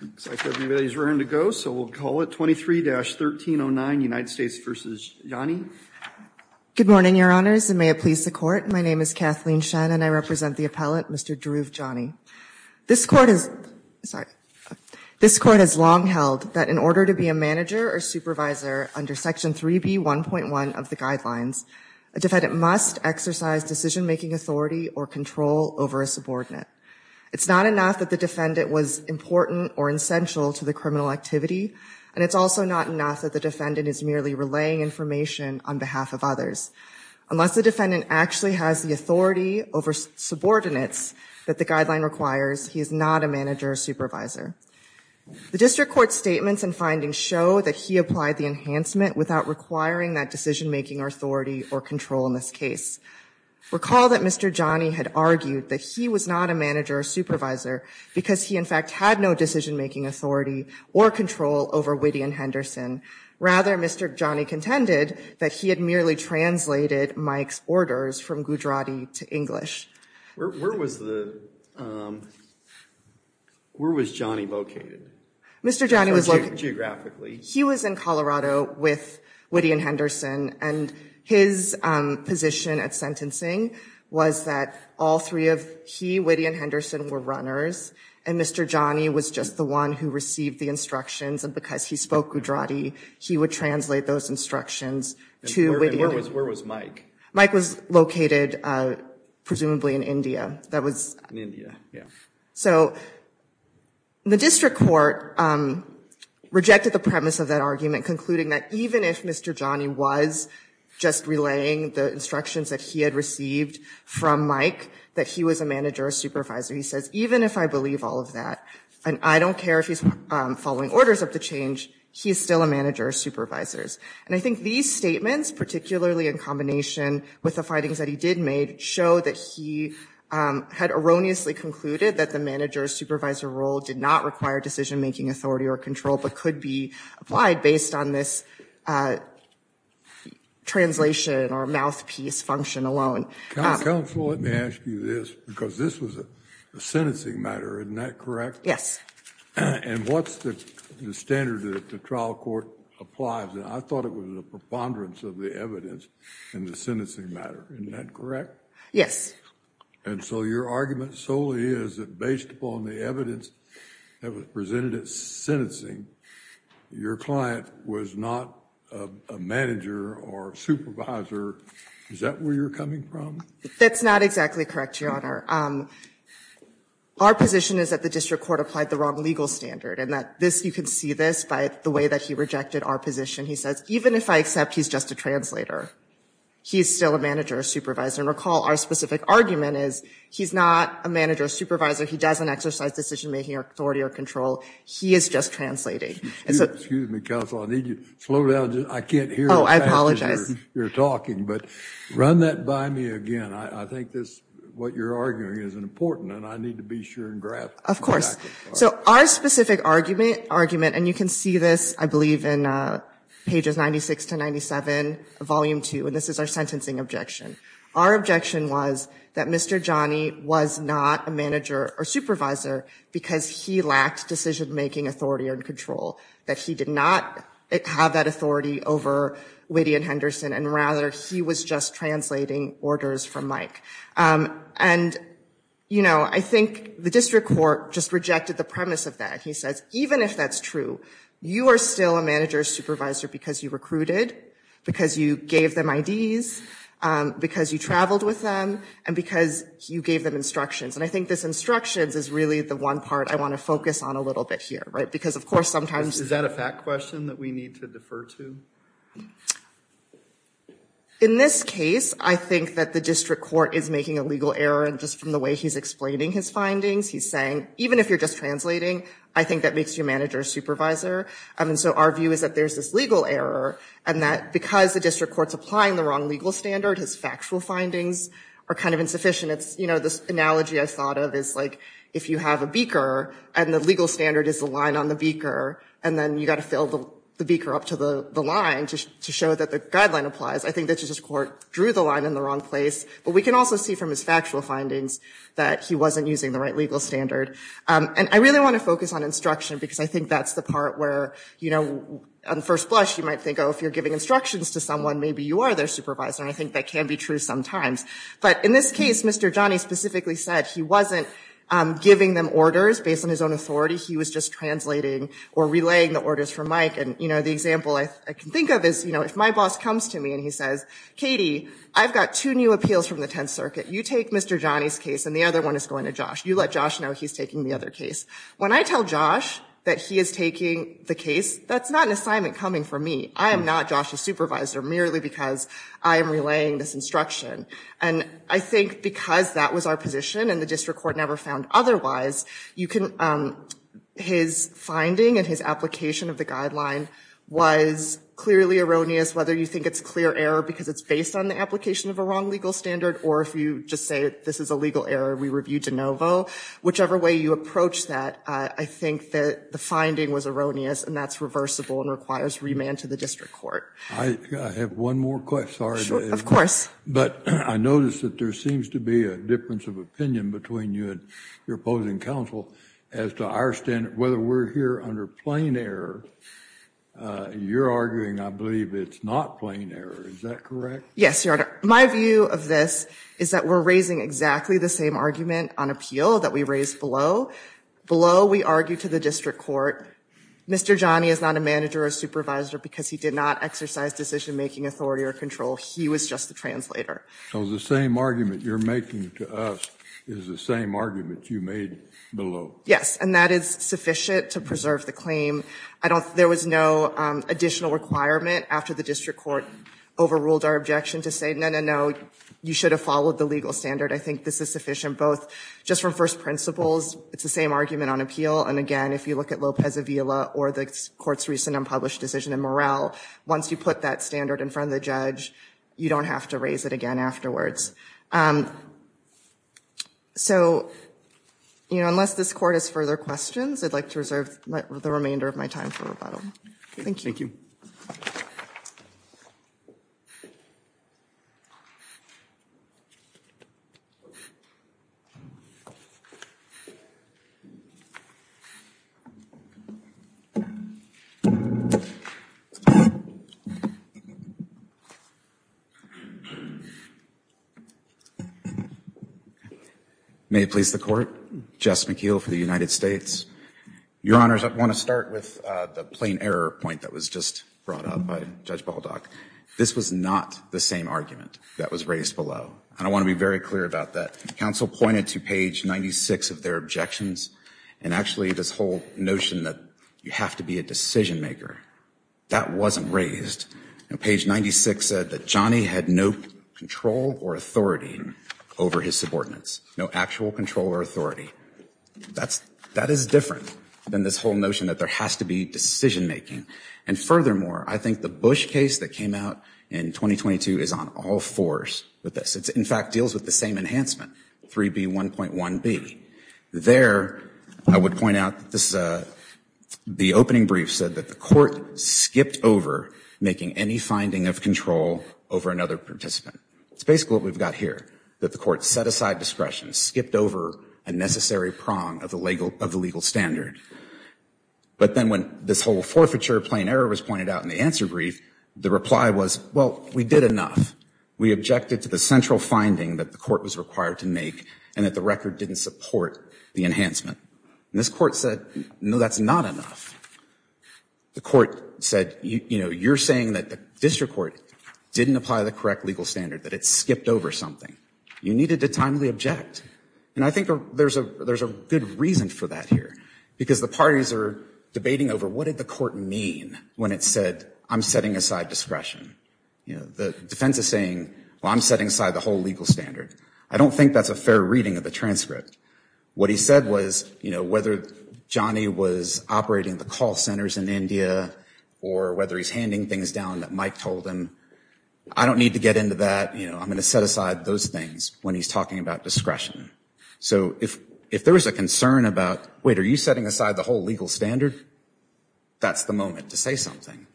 It looks like everybody is ready to go, so we'll call it 23-1309, United States v. Jani. Good morning, Your Honors, and may it please the Court. My name is Kathleen Shen, and I represent the appellate, Mr. Dhruv Jani. This Court has long held that in order to be a manager or supervisor under Section 3B.1.1 of the Guidelines, a defendant must exercise decision-making authority or control over a subordinate. It's not enough that the defendant was important or essential to the criminal activity, and it's also not enough that the defendant is merely relaying information on behalf of others. Unless the defendant actually has the authority over subordinates that the Guideline requires, he is not a manager or supervisor. The District Court's statements and findings show that he applied the enhancement without requiring that decision-making authority or control in this case. Recall that Mr. Jani had argued that he was not a manager or supervisor because he, in fact, had no decision-making authority or control over Whitty and Henderson. Rather, Mr. Jani contended that he had merely translated Mike's orders from Gujarati to English. Where was the, where was Jani located? Mr. Jani was located. Geographically. He was in Colorado with Whitty and Henderson, and his position at sentencing was that all three of he, Whitty, and Henderson were runners, and Mr. Jani was just the one who received the instructions. And because he spoke Gujarati, he would translate those instructions to Whitty and Henderson. Where was Mike? Mike was located, presumably, in India. In India, yeah. So, the District Court rejected the premise of that argument, concluding that even if Mr. Jani was just relaying the instructions that he had received from Mike, that he was a manager or supervisor. He says, even if I believe all of that, and I don't care if he's following orders of the change, he is still a manager or supervisors. And I think these statements, particularly in combination with the findings that he did make, show that he had erroneously concluded that the manager or supervisor role did not require decision-making authority or control, but could be applied based on this translation or mouthpiece function alone. Counsel, let me ask you this, because this was a sentencing matter, isn't that correct? Yes. And what's the standard that the trial court applies? And I thought it was a preponderance of the evidence in the sentencing matter. Isn't that correct? Yes. And so your argument solely is that based upon the evidence that was presented at sentencing, your client was not a manager or supervisor. Is that where you're coming from? That's not exactly correct, Your Honor. Our position is that the district court applied the wrong legal standard, and that this, you can see this by the way that he rejected our position. He says, even if I accept he's just a translator, he's still a manager or supervisor. And recall, our specific argument is, he's not a manager or supervisor. He doesn't exercise decision-making authority or control. He is just translating. Excuse me, counsel. I need you to slow down. I can't hear you. Oh, I apologize. You're talking, but run that by me again. I think this, what you're arguing, is important, and I need to be sure and graph it. So our specific argument, and you can see this, I believe, in pages 96 to 97 of Volume 2, and this is our sentencing objection. Our objection was that Mr. Johnny was not a manager or supervisor because he lacked decision-making authority or control, that he did not have that authority over Whitty and Henderson, and rather, he was just translating orders from Mike. And, you know, I think the district court just rejected the premise of that. He says, even if that's true, you are still a manager or supervisor because you recruited, because you gave them IDs, because you traveled with them, and because you gave them instructions. And I think this instructions is really the one part I want to focus on a little bit here, right? Because, of course, sometimes- Is that a fact question that we need to defer to? In this case, I think that the district court is making a legal error just from the way he's explaining his findings. He's saying, even if you're just translating, I think that makes you a manager or supervisor. And so our view is that there's this legal error, and that because the district court's applying the wrong legal standard, his factual findings are kind of insufficient. It's, you know, this analogy I thought of is, like, if you have a beaker, and the legal standard is the line on the beaker, and then you've got to fill the beaker up to the line to show that the guideline applies, I think the district court drew the line in the wrong place. But we can also see from his factual findings that he wasn't using the right legal standard. And I really want to focus on instruction, because I think that's the part where, you know, on first blush, you might think, oh, if you're giving instructions to someone, maybe you are their supervisor. And I think that can be true sometimes. But in this case, Mr. Johnny specifically said he wasn't giving them orders based on his own authority. He was just translating or relaying the orders from Mike. And, you know, the example I can think of is, you know, if my boss comes to me and he says, Katie, I've got two new appeals from the Tenth Circuit. You take Mr. Johnny's case, and the other one is going to Josh. You let Josh know he's taking the other case. When I tell Josh that he is taking the case, that's not an assignment coming from me. I am not Josh's supervisor merely because I am relaying this instruction. And I think because that was our position, and the district court never found otherwise, you can, his finding and his application of the guideline was clearly erroneous, whether you think it's clear error because it's based on the application of a wrong legal standard, or if you just say this is a legal error, we review de novo. Whichever way you approach that, I think that the finding was erroneous, and that's reversible and requires remand to the district court. I have one more question. Of course. But I noticed that there seems to be a difference of opinion between you and your opposing counsel as to our standard, whether we're here under plain error. You're arguing I believe it's not plain error. Is that correct? Yes, Your Honor. My view of this is that we're raising exactly the same argument on appeal that we raised below. Below, we argue to the district court, Mr. Johnny is not a manager or supervisor because he did not exercise decision-making authority or control. He was just the translator. So the same argument you're making to us is the same argument you made below. Yes, and that is sufficient to preserve the claim. I don't, there was no additional requirement after the district court overruled our objection to say, no, no, no, you should have followed the legal standard. I think this is sufficient both just from first principles. It's the same argument on appeal. And again, if you look at Lopez-Avila or the court's recent unpublished decision in Morrell, once you put that standard in front of the judge, you don't have to raise it again afterwards. So, you know, unless this court has further questions, I'd like to reserve the remainder of my time for rebuttal. Thank you. May it please the court. Jess McKeel for the United States. Your Honors, I want to start with the plain error point that was just brought up by Judge Baldock. This was not the same argument that was raised below. And I want to be very clear about that. Counsel pointed to page 96 of their objections and actually this whole notion that you have to be a decision maker. That wasn't raised. Page 96 said that Johnny had no control or authority over his subordinates, no actual control or authority. That's that is different than this whole notion that there has to be decision making. And furthermore, I think the Bush case that came out in 2022 is on all fours with this. In fact, deals with the same enhancement, 3B1.1B. There, I would point out that this is the opening brief said that the court skipped over making any finding of control over another participant. It's basically what we've got here, that the court set aside discretion, skipped over a necessary prong of the legal standard. But then when this whole forfeiture plain error was pointed out in the answer brief, the reply was, well, we did enough. We objected to the central finding that the court was required to make and that the record didn't support the enhancement. And this court said, no, that's not enough. The court said, you know, you're saying that the district court didn't apply the correct legal standard, that it skipped over something. You needed to timely object. And I think there's a there's a good reason for that here, because the parties are debating over what did the court mean when it said, I'm setting aside discretion? You know, the defense is saying, well, I'm setting aside the whole legal standard. I don't think that's a fair reading of the transcript. What he said was, you know, whether Johnny was operating the call centers in India or whether he's handing things down that Mike told him, I don't need to get into that. You know, I'm going to set aside those things when he's talking about discretion. So if if there was a concern about, wait, are you setting aside the whole legal standard? That's the moment to say something.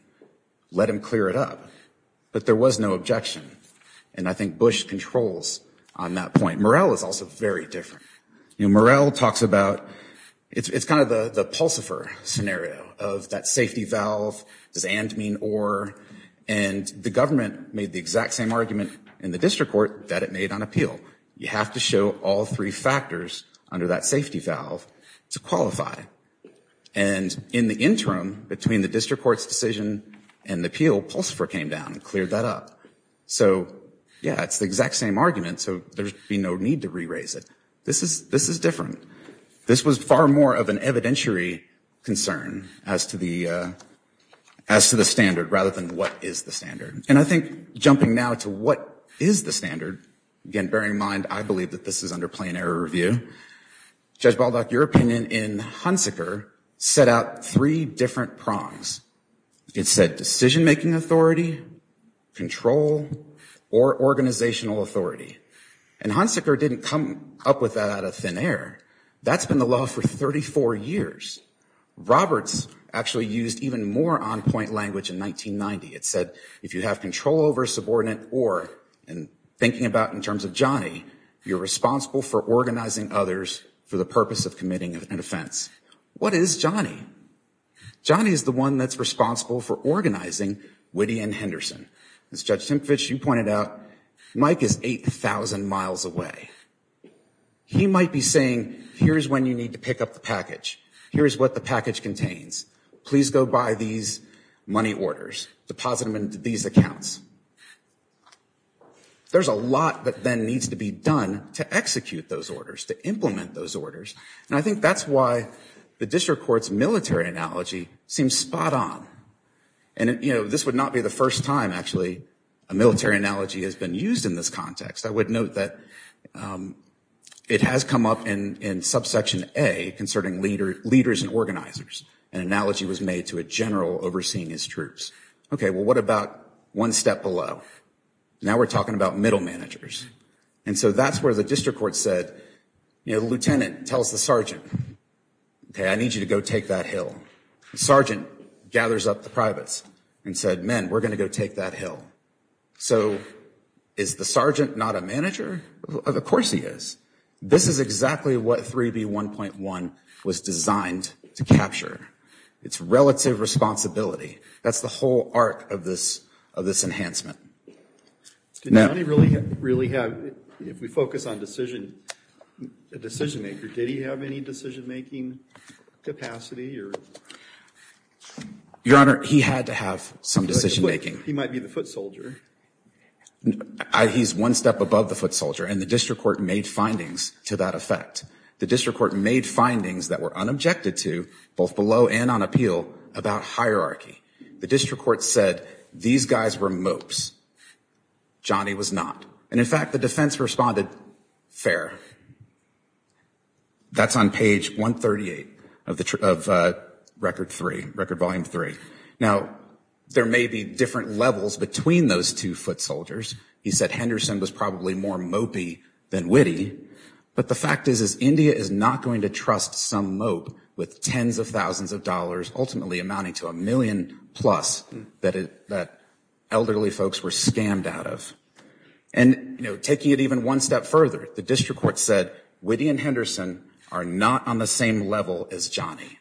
Let him clear it up. But there was no objection. And I think Bush controls on that point. Morrell is also very different. You know, Morrell talks about it's kind of the the Pulsifer scenario of that safety valve. Does and mean or? And the government made the exact same argument in the district court that it made on appeal. You have to show all three factors under that safety valve to qualify. And in the interim between the district court's decision and the appeal, Pulsifer came down and cleared that up. So, yeah, it's the exact same argument. So there'd be no need to re-raise it. This is this is different. This was far more of an evidentiary concern as to the as to the standard rather than what is the standard. And I think jumping now to what is the standard, again, bearing in mind, I believe that this is under plain error review. Judge Baldock, your opinion in Hunsaker set out three different prongs. It said decision making authority, control or organizational authority. And Hunsaker didn't come up with that out of thin air. That's been the law for 34 years. Roberts actually used even more on point language in 1990. It said if you have control over subordinate or and thinking about in terms of Johnny, you're responsible for organizing others for the purpose of committing an offense. What is Johnny? Johnny is the one that's responsible for organizing Whitty and Henderson. As Judge Tempfish, you pointed out, Mike is 8000 miles away. He might be saying, here's when you need to pick up the package. Here's what the package contains. Please go buy these money orders, deposit them into these accounts. There's a lot that then needs to be done to execute those orders, to implement those orders. And I think that's why the district court's military analogy seems spot on. And, you know, this would not be the first time, actually, a military analogy has been used in this context. I would note that it has come up in subsection A concerning leaders and organizers. An analogy was made to a general overseeing his troops. OK, well, what about one step below? Now we're talking about middle managers. And so that's where the district court said, you know, the lieutenant tells the sergeant, OK, I need you to go take that hill. Sergeant gathers up the privates and said, men, we're going to go take that hill. So is the sergeant not a manager? Of course he is. This is exactly what 3B1.1 was designed to capture. It's relative responsibility. That's the whole arc of this enhancement. Now, Did Johnny really have, if we focus on decision, a decision maker, did he have any decision making capacity or? Your Honor, he had to have some decision making. He might be the foot soldier. He's one step above the foot soldier. And the district court made findings to that effect. The district court made findings that were unobjected to both below and on appeal about hierarchy. The district court said these guys were mopes. Johnny was not. And in fact, the defense responded fair. That's on page 138 of the record three, record volume three. Now, there may be different levels between those two foot soldiers. He said Henderson was probably more mopey than witty. But the fact is, is India is not going to trust some mope with tens of thousands of dollars, ultimately amounting to a million plus that elderly folks were scammed out of. And, you know, taking it even one step further, the district court said, Witty and Henderson are not on the same level as Johnny.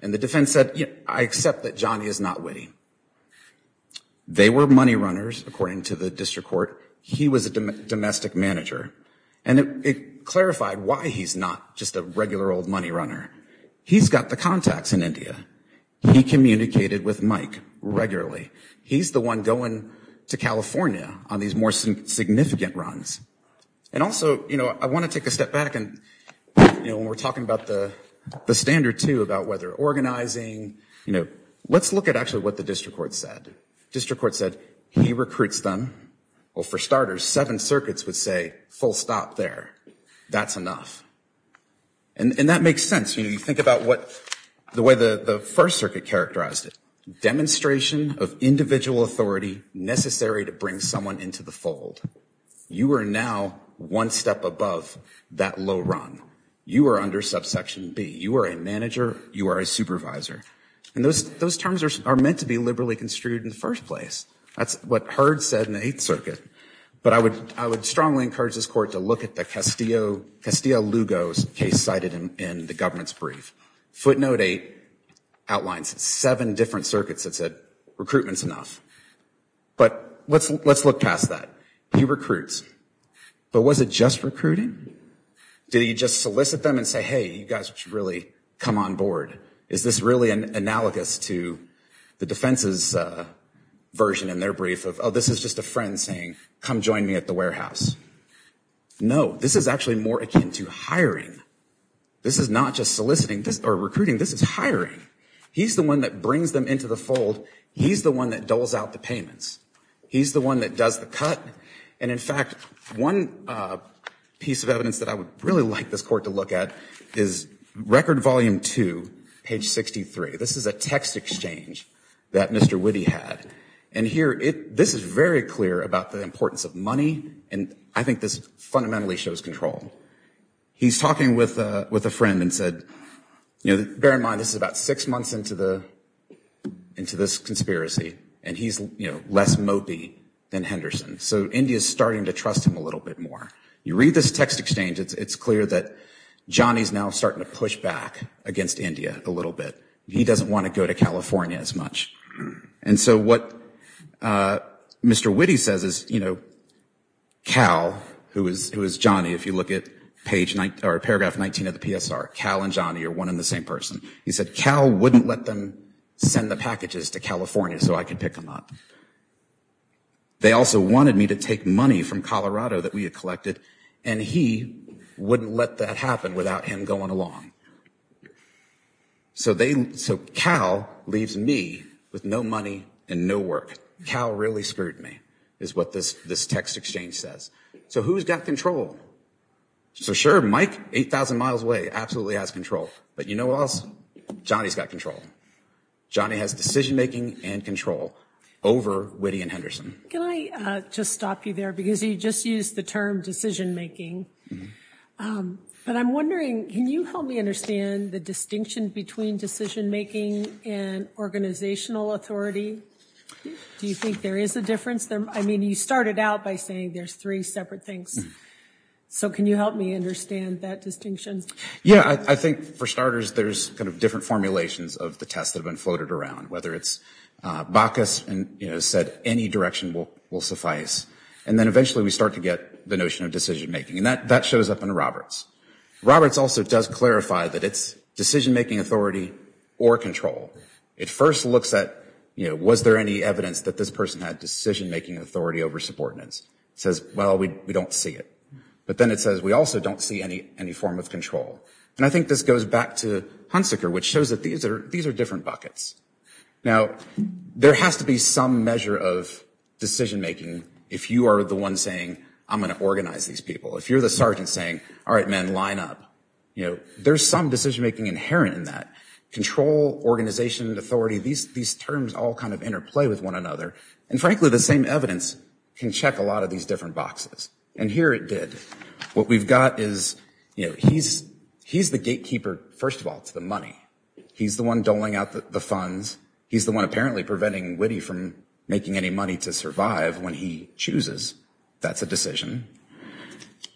And the defense said, I accept that Johnny is not witty. They were money runners, according to the district court. He was a domestic manager. And it clarified why he's not just a regular old money runner. He's got the contacts in India. He communicated with Mike regularly. He's the one going to California on these more significant runs. And also, you know, I want to take a step back. And, you know, when we're talking about the standard, too, about whether organizing, you know, let's look at actually what the district court said. District court said he recruits them. Well, for starters, seven circuits would say full stop there. That's enough. And that makes sense. You know, you think about what the way the First Circuit characterized it, demonstration of individual authority necessary to bring someone into the fold. You are now one step above that low run. You are under subsection B. You are a manager. You are a supervisor. And those terms are meant to be liberally construed in the first place. That's what Hurd said in the Eighth Circuit. But I would strongly encourage this court to look at the Castillo-Lugo case cited in the government's brief. Footnote 8 outlines seven different circuits that said recruitment's enough. But let's look past that. He recruits. But was it just recruiting? Did he just solicit them and say, hey, you guys should really come on board? Is this really analogous to the defense's version in their brief of, oh, this is just a friend saying, come join me at the warehouse? No, this is actually more akin to hiring. This is not just soliciting or recruiting. This is hiring. He's the one that brings them into the fold. He's the one that doles out the payments. He's the one that does the cut. And in fact, one piece of evidence that I would really like this court to look at is Record Volume 2, page 63. This is a text exchange that Mr. Witte had. And here, this is very clear about the importance of money. And I think this fundamentally shows control. He's talking with a friend and said, you know, bear in mind this is about six months into this conspiracy. And he's, you know, less mopey than Henderson. So India's starting to trust him a little bit more. You read this text exchange, it's clear that Johnny's now starting to push back against India a little bit. He doesn't want to go to California as much. And so what Mr. Witte says is, you know, Cal, who is Johnny, if you look at paragraph 19 of the PSR, Cal and Johnny are one and the same person. He said, Cal wouldn't let them send the packages to California so I could pick them up. They also wanted me to take money from Colorado that we had collected, and he wouldn't let that happen without him going along. So Cal leaves me with no money and no work. Cal really screwed me, is what this text exchange says. So who's got control? So sure, Mike, 8,000 miles away, absolutely has control. But you know what else? Johnny's got control. Johnny has decision-making and control. Over Witte and Henderson. Can I just stop you there? Because you just used the term decision-making. But I'm wondering, can you help me understand the distinction between decision-making and organizational authority? Do you think there is a difference? I mean, you started out by saying there's three separate things. So can you help me understand that distinction? Yeah, I think for starters, there's kind of different formulations of the tests that have been floated around. Whether it's Bacchus said any direction will suffice. And then eventually we start to get the notion of decision-making. And that shows up in Roberts. Roberts also does clarify that it's decision-making authority or control. It first looks at, you know, was there any evidence that this person had decision-making authority over subordinates? It says, well, we don't see it. But then it says we also don't see any form of control. And I think this goes back to Hunsaker, which shows that these are different buckets. Now, there has to be some measure of decision-making if you are the one saying, I'm going to organize these people. If you're the sergeant saying, all right, men, line up, you know, there's some decision-making inherent in that. Control, organization, authority, these terms all kind of interplay with one another. And frankly, the same evidence can check a lot of these different boxes. And here it did. What we've got is, you know, he's the gatekeeper, first of all, to the money. He's the one doling out the funds. He's the one apparently preventing Witte from making any money to survive when he chooses. That's a decision.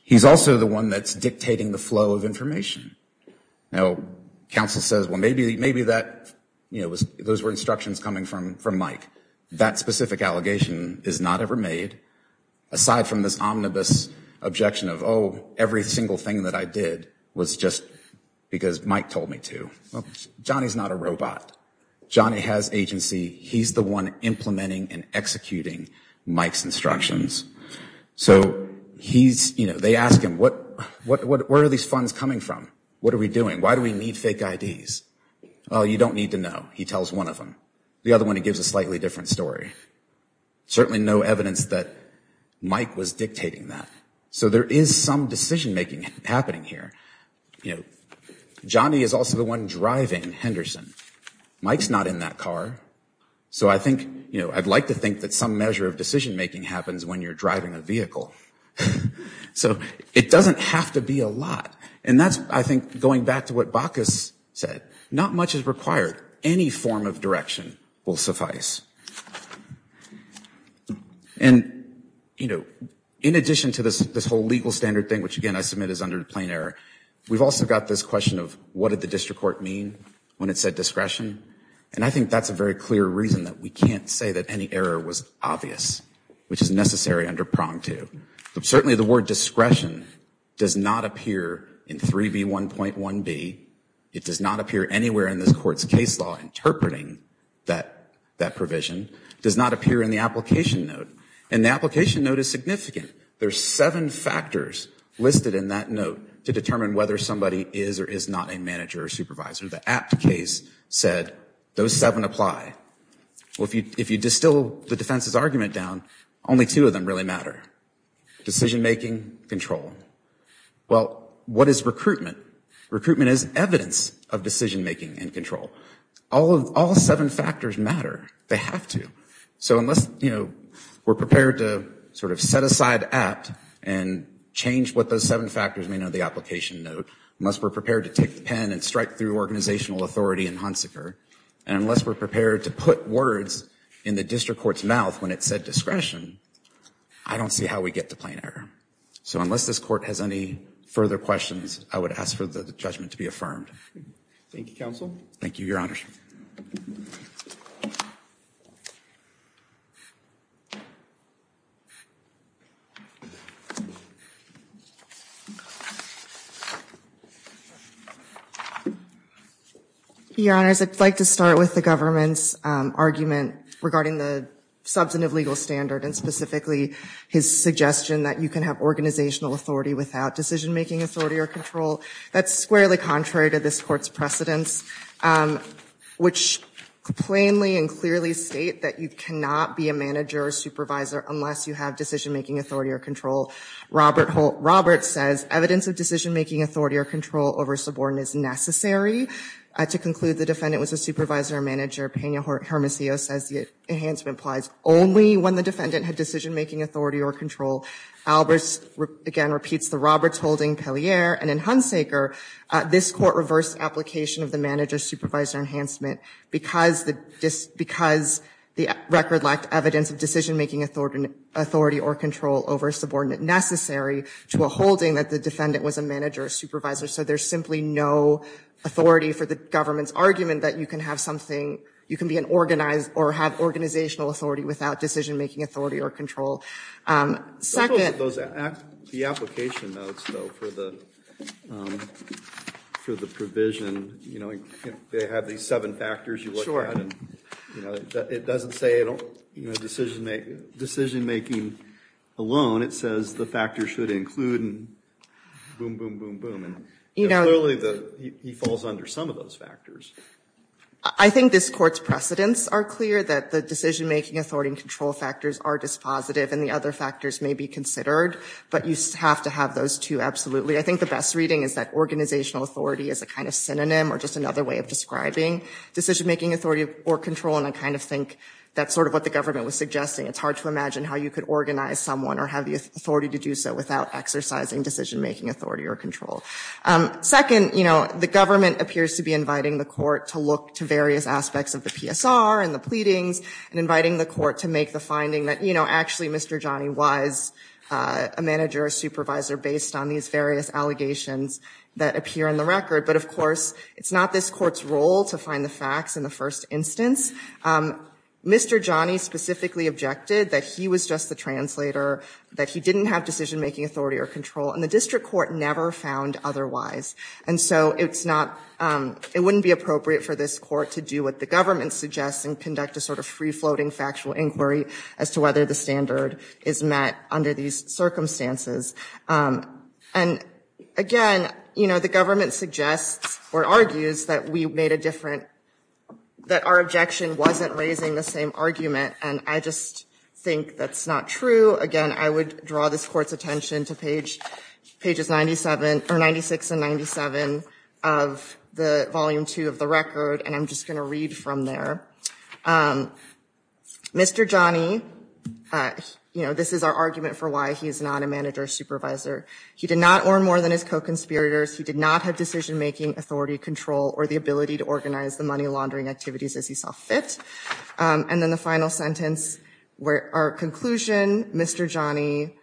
He's also the one that's dictating the flow of information. Now, counsel says, well, maybe that, you know, those were instructions coming from Mike. That specific allegation is not ever made. Aside from this omnibus objection of, oh, every single thing that I did was just because Mike told me to. Well, Johnny's not a robot. Johnny has agency. He's the one implementing and executing Mike's instructions. So he's, you know, they ask him, where are these funds coming from? What are we doing? Why do we need fake IDs? Well, you don't need to know. He tells one of them. The other one, he gives a slightly different story. Certainly no evidence that Mike was dictating that. So there is some decision-making happening here. You know, Johnny is also the one driving Henderson. Mike's not in that car. So I think, you know, I'd like to think that some measure of decision-making happens when you're driving a vehicle. So it doesn't have to be a lot. And that's, I think, going back to what Bacchus said. Not much is required. Any form of direction will suffice. And, you know, in addition to this whole legal standard thing, which, again, I submit is under the plain error, we've also got this question of what did the district court mean when it said discretion? And I think that's a very clear reason that we can't say that any error was obvious, which is necessary under prong two. Certainly the word discretion does not appear in 3B1.1b. It does not appear anywhere in this court's case law interpreting that that provision. It does not appear in the application note. And the application note is significant. There's seven factors listed in that note to determine whether somebody is or is not a manager or supervisor. The apt case said those seven apply. Well, if you distill the defense's argument down, only two of them really matter. Decision-making, control. Well, what is recruitment? Recruitment is evidence of decision-making and control. All seven factors matter. They have to. So unless, you know, we're prepared to sort of set aside apt and change what those seven factors mean in the application note, unless we're prepared to take the pen and strike through organizational authority and Hunsaker, and unless we're prepared to put words in the district court's mouth when it said discretion, I don't see how we get to plain error. So unless this court has any further questions, I would ask for the judgment to be affirmed. Thank you, Counsel. Thank you, Your Honor. Your Honor, I'd like to start with the government's argument regarding the substantive legal standard and specifically his suggestion that you can have organizational authority without decision-making authority or control. That's squarely contrary to this court's precedence, which plainly and clearly state that you cannot be a manager or supervisor unless you have decision-making authority or control. Robert says evidence of decision-making authority or control over subordinate is necessary. To conclude, the defendant was a supervisor or manager. Pena Hermosillo says the enhancement applies only when the defendant had decision-making authority or control. Albers, again, repeats the Roberts holding, Pellier, and in Hunsaker, this court reversed application of the manager-supervisor enhancement because the record lacked evidence of decision-making authority or control over subordinate necessary to a holding that the defendant was a manager or supervisor. So there's simply no authority for the government's argument that you can have something, you can be an organized or have organizational authority without decision-making authority or control. The application notes, though, for the provision, you know, they have these seven factors you look at and it doesn't say decision-making alone. It says the factor should include and boom, boom, boom, boom. And clearly he falls under some of those factors. I think this court's precedents are clear that the decision-making authority and control factors are dispositive and the other factors may be considered. But you have to have those two, absolutely. I think the best reading is that organizational authority is a kind of synonym or just another way of describing decision-making authority or control. And I kind of think that's sort of what the government was suggesting. It's hard to imagine how you could organize someone or have the authority to do so without exercising decision-making authority or control. Second, you know, the government appears to be inviting the court to look to various aspects of the PSR and the pleadings and inviting the court to make the finding that, you know, actually Mr. Johnny was a manager or supervisor based on these various allegations that appear in the record. But of course, it's not this court's role to find the facts in the first instance. Mr. Johnny specifically objected that he was just the translator, that he didn't have decision-making authority or control. And the district court never found otherwise. And so it's not, it wouldn't be appropriate for this court to do what the government suggests and conduct a sort of free-floating factual inquiry as to whether the standard is met under these circumstances. And again, you know, the government suggests or argues that we made a different, that our objection wasn't raising the same argument. And I just think that's not true. Again, I would draw this court's attention to page, pages 97, or 96 and 97 of the volume two of the record. And I'm just going to read from there. Mr. Johnny, you know, this is our argument for why he is not a manager or supervisor. He did not earn more than his co-conspirators. He did not have decision-making authority, control, or the ability to organize the money laundering activities as he saw fit. And then the final sentence, our conclusion, Mr. Johnny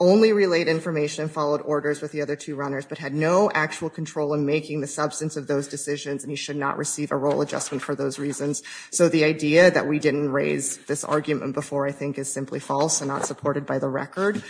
only relayed information, followed orders with the other two runners, but had no actual control in making the substance of those decisions, and he should not receive a role adjustment for those reasons. So the idea that we didn't raise this argument before, I think, is simply false and not supported by the record.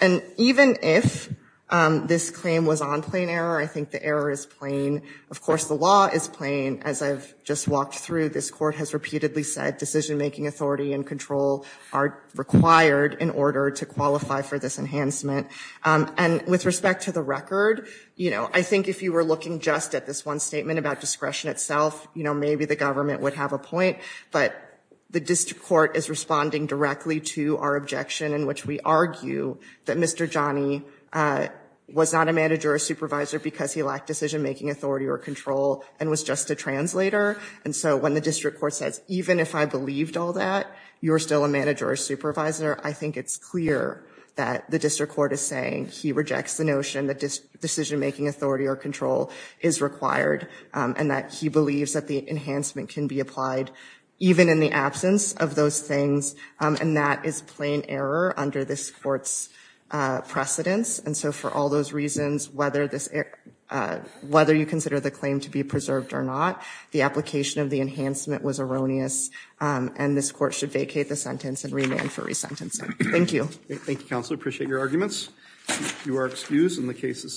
And even if this claim was on plain error, I think the error is plain. Of course, the law is plain. As I've just walked through, this court has repeatedly said decision-making authority and control are required in order to qualify for this enhancement. And with respect to the record, you know, I think if you were looking just at this one statement about discretion itself, you know, maybe the government would have a point. But the district court is responding directly to our objection in which we argue that Mr. Johnny was not a manager or supervisor because he lacked decision-making authority or control and was just a translator. And so when the district court says, even if I believed all that, you're still a manager or supervisor, I think it's clear that the district court is saying he rejects the notion that decision-making authority or control is required and that he believes that the enhancement can be applied even in the absence of those things. And that is plain error under this court's precedence. And so for all those reasons, whether you consider the claim to be preserved or not, the application of the enhancement was erroneous and this court should vacate the sentence and remand for resentencing. Thank you. Thank you, counsel. I appreciate your arguments. You are excused and the case is submitted.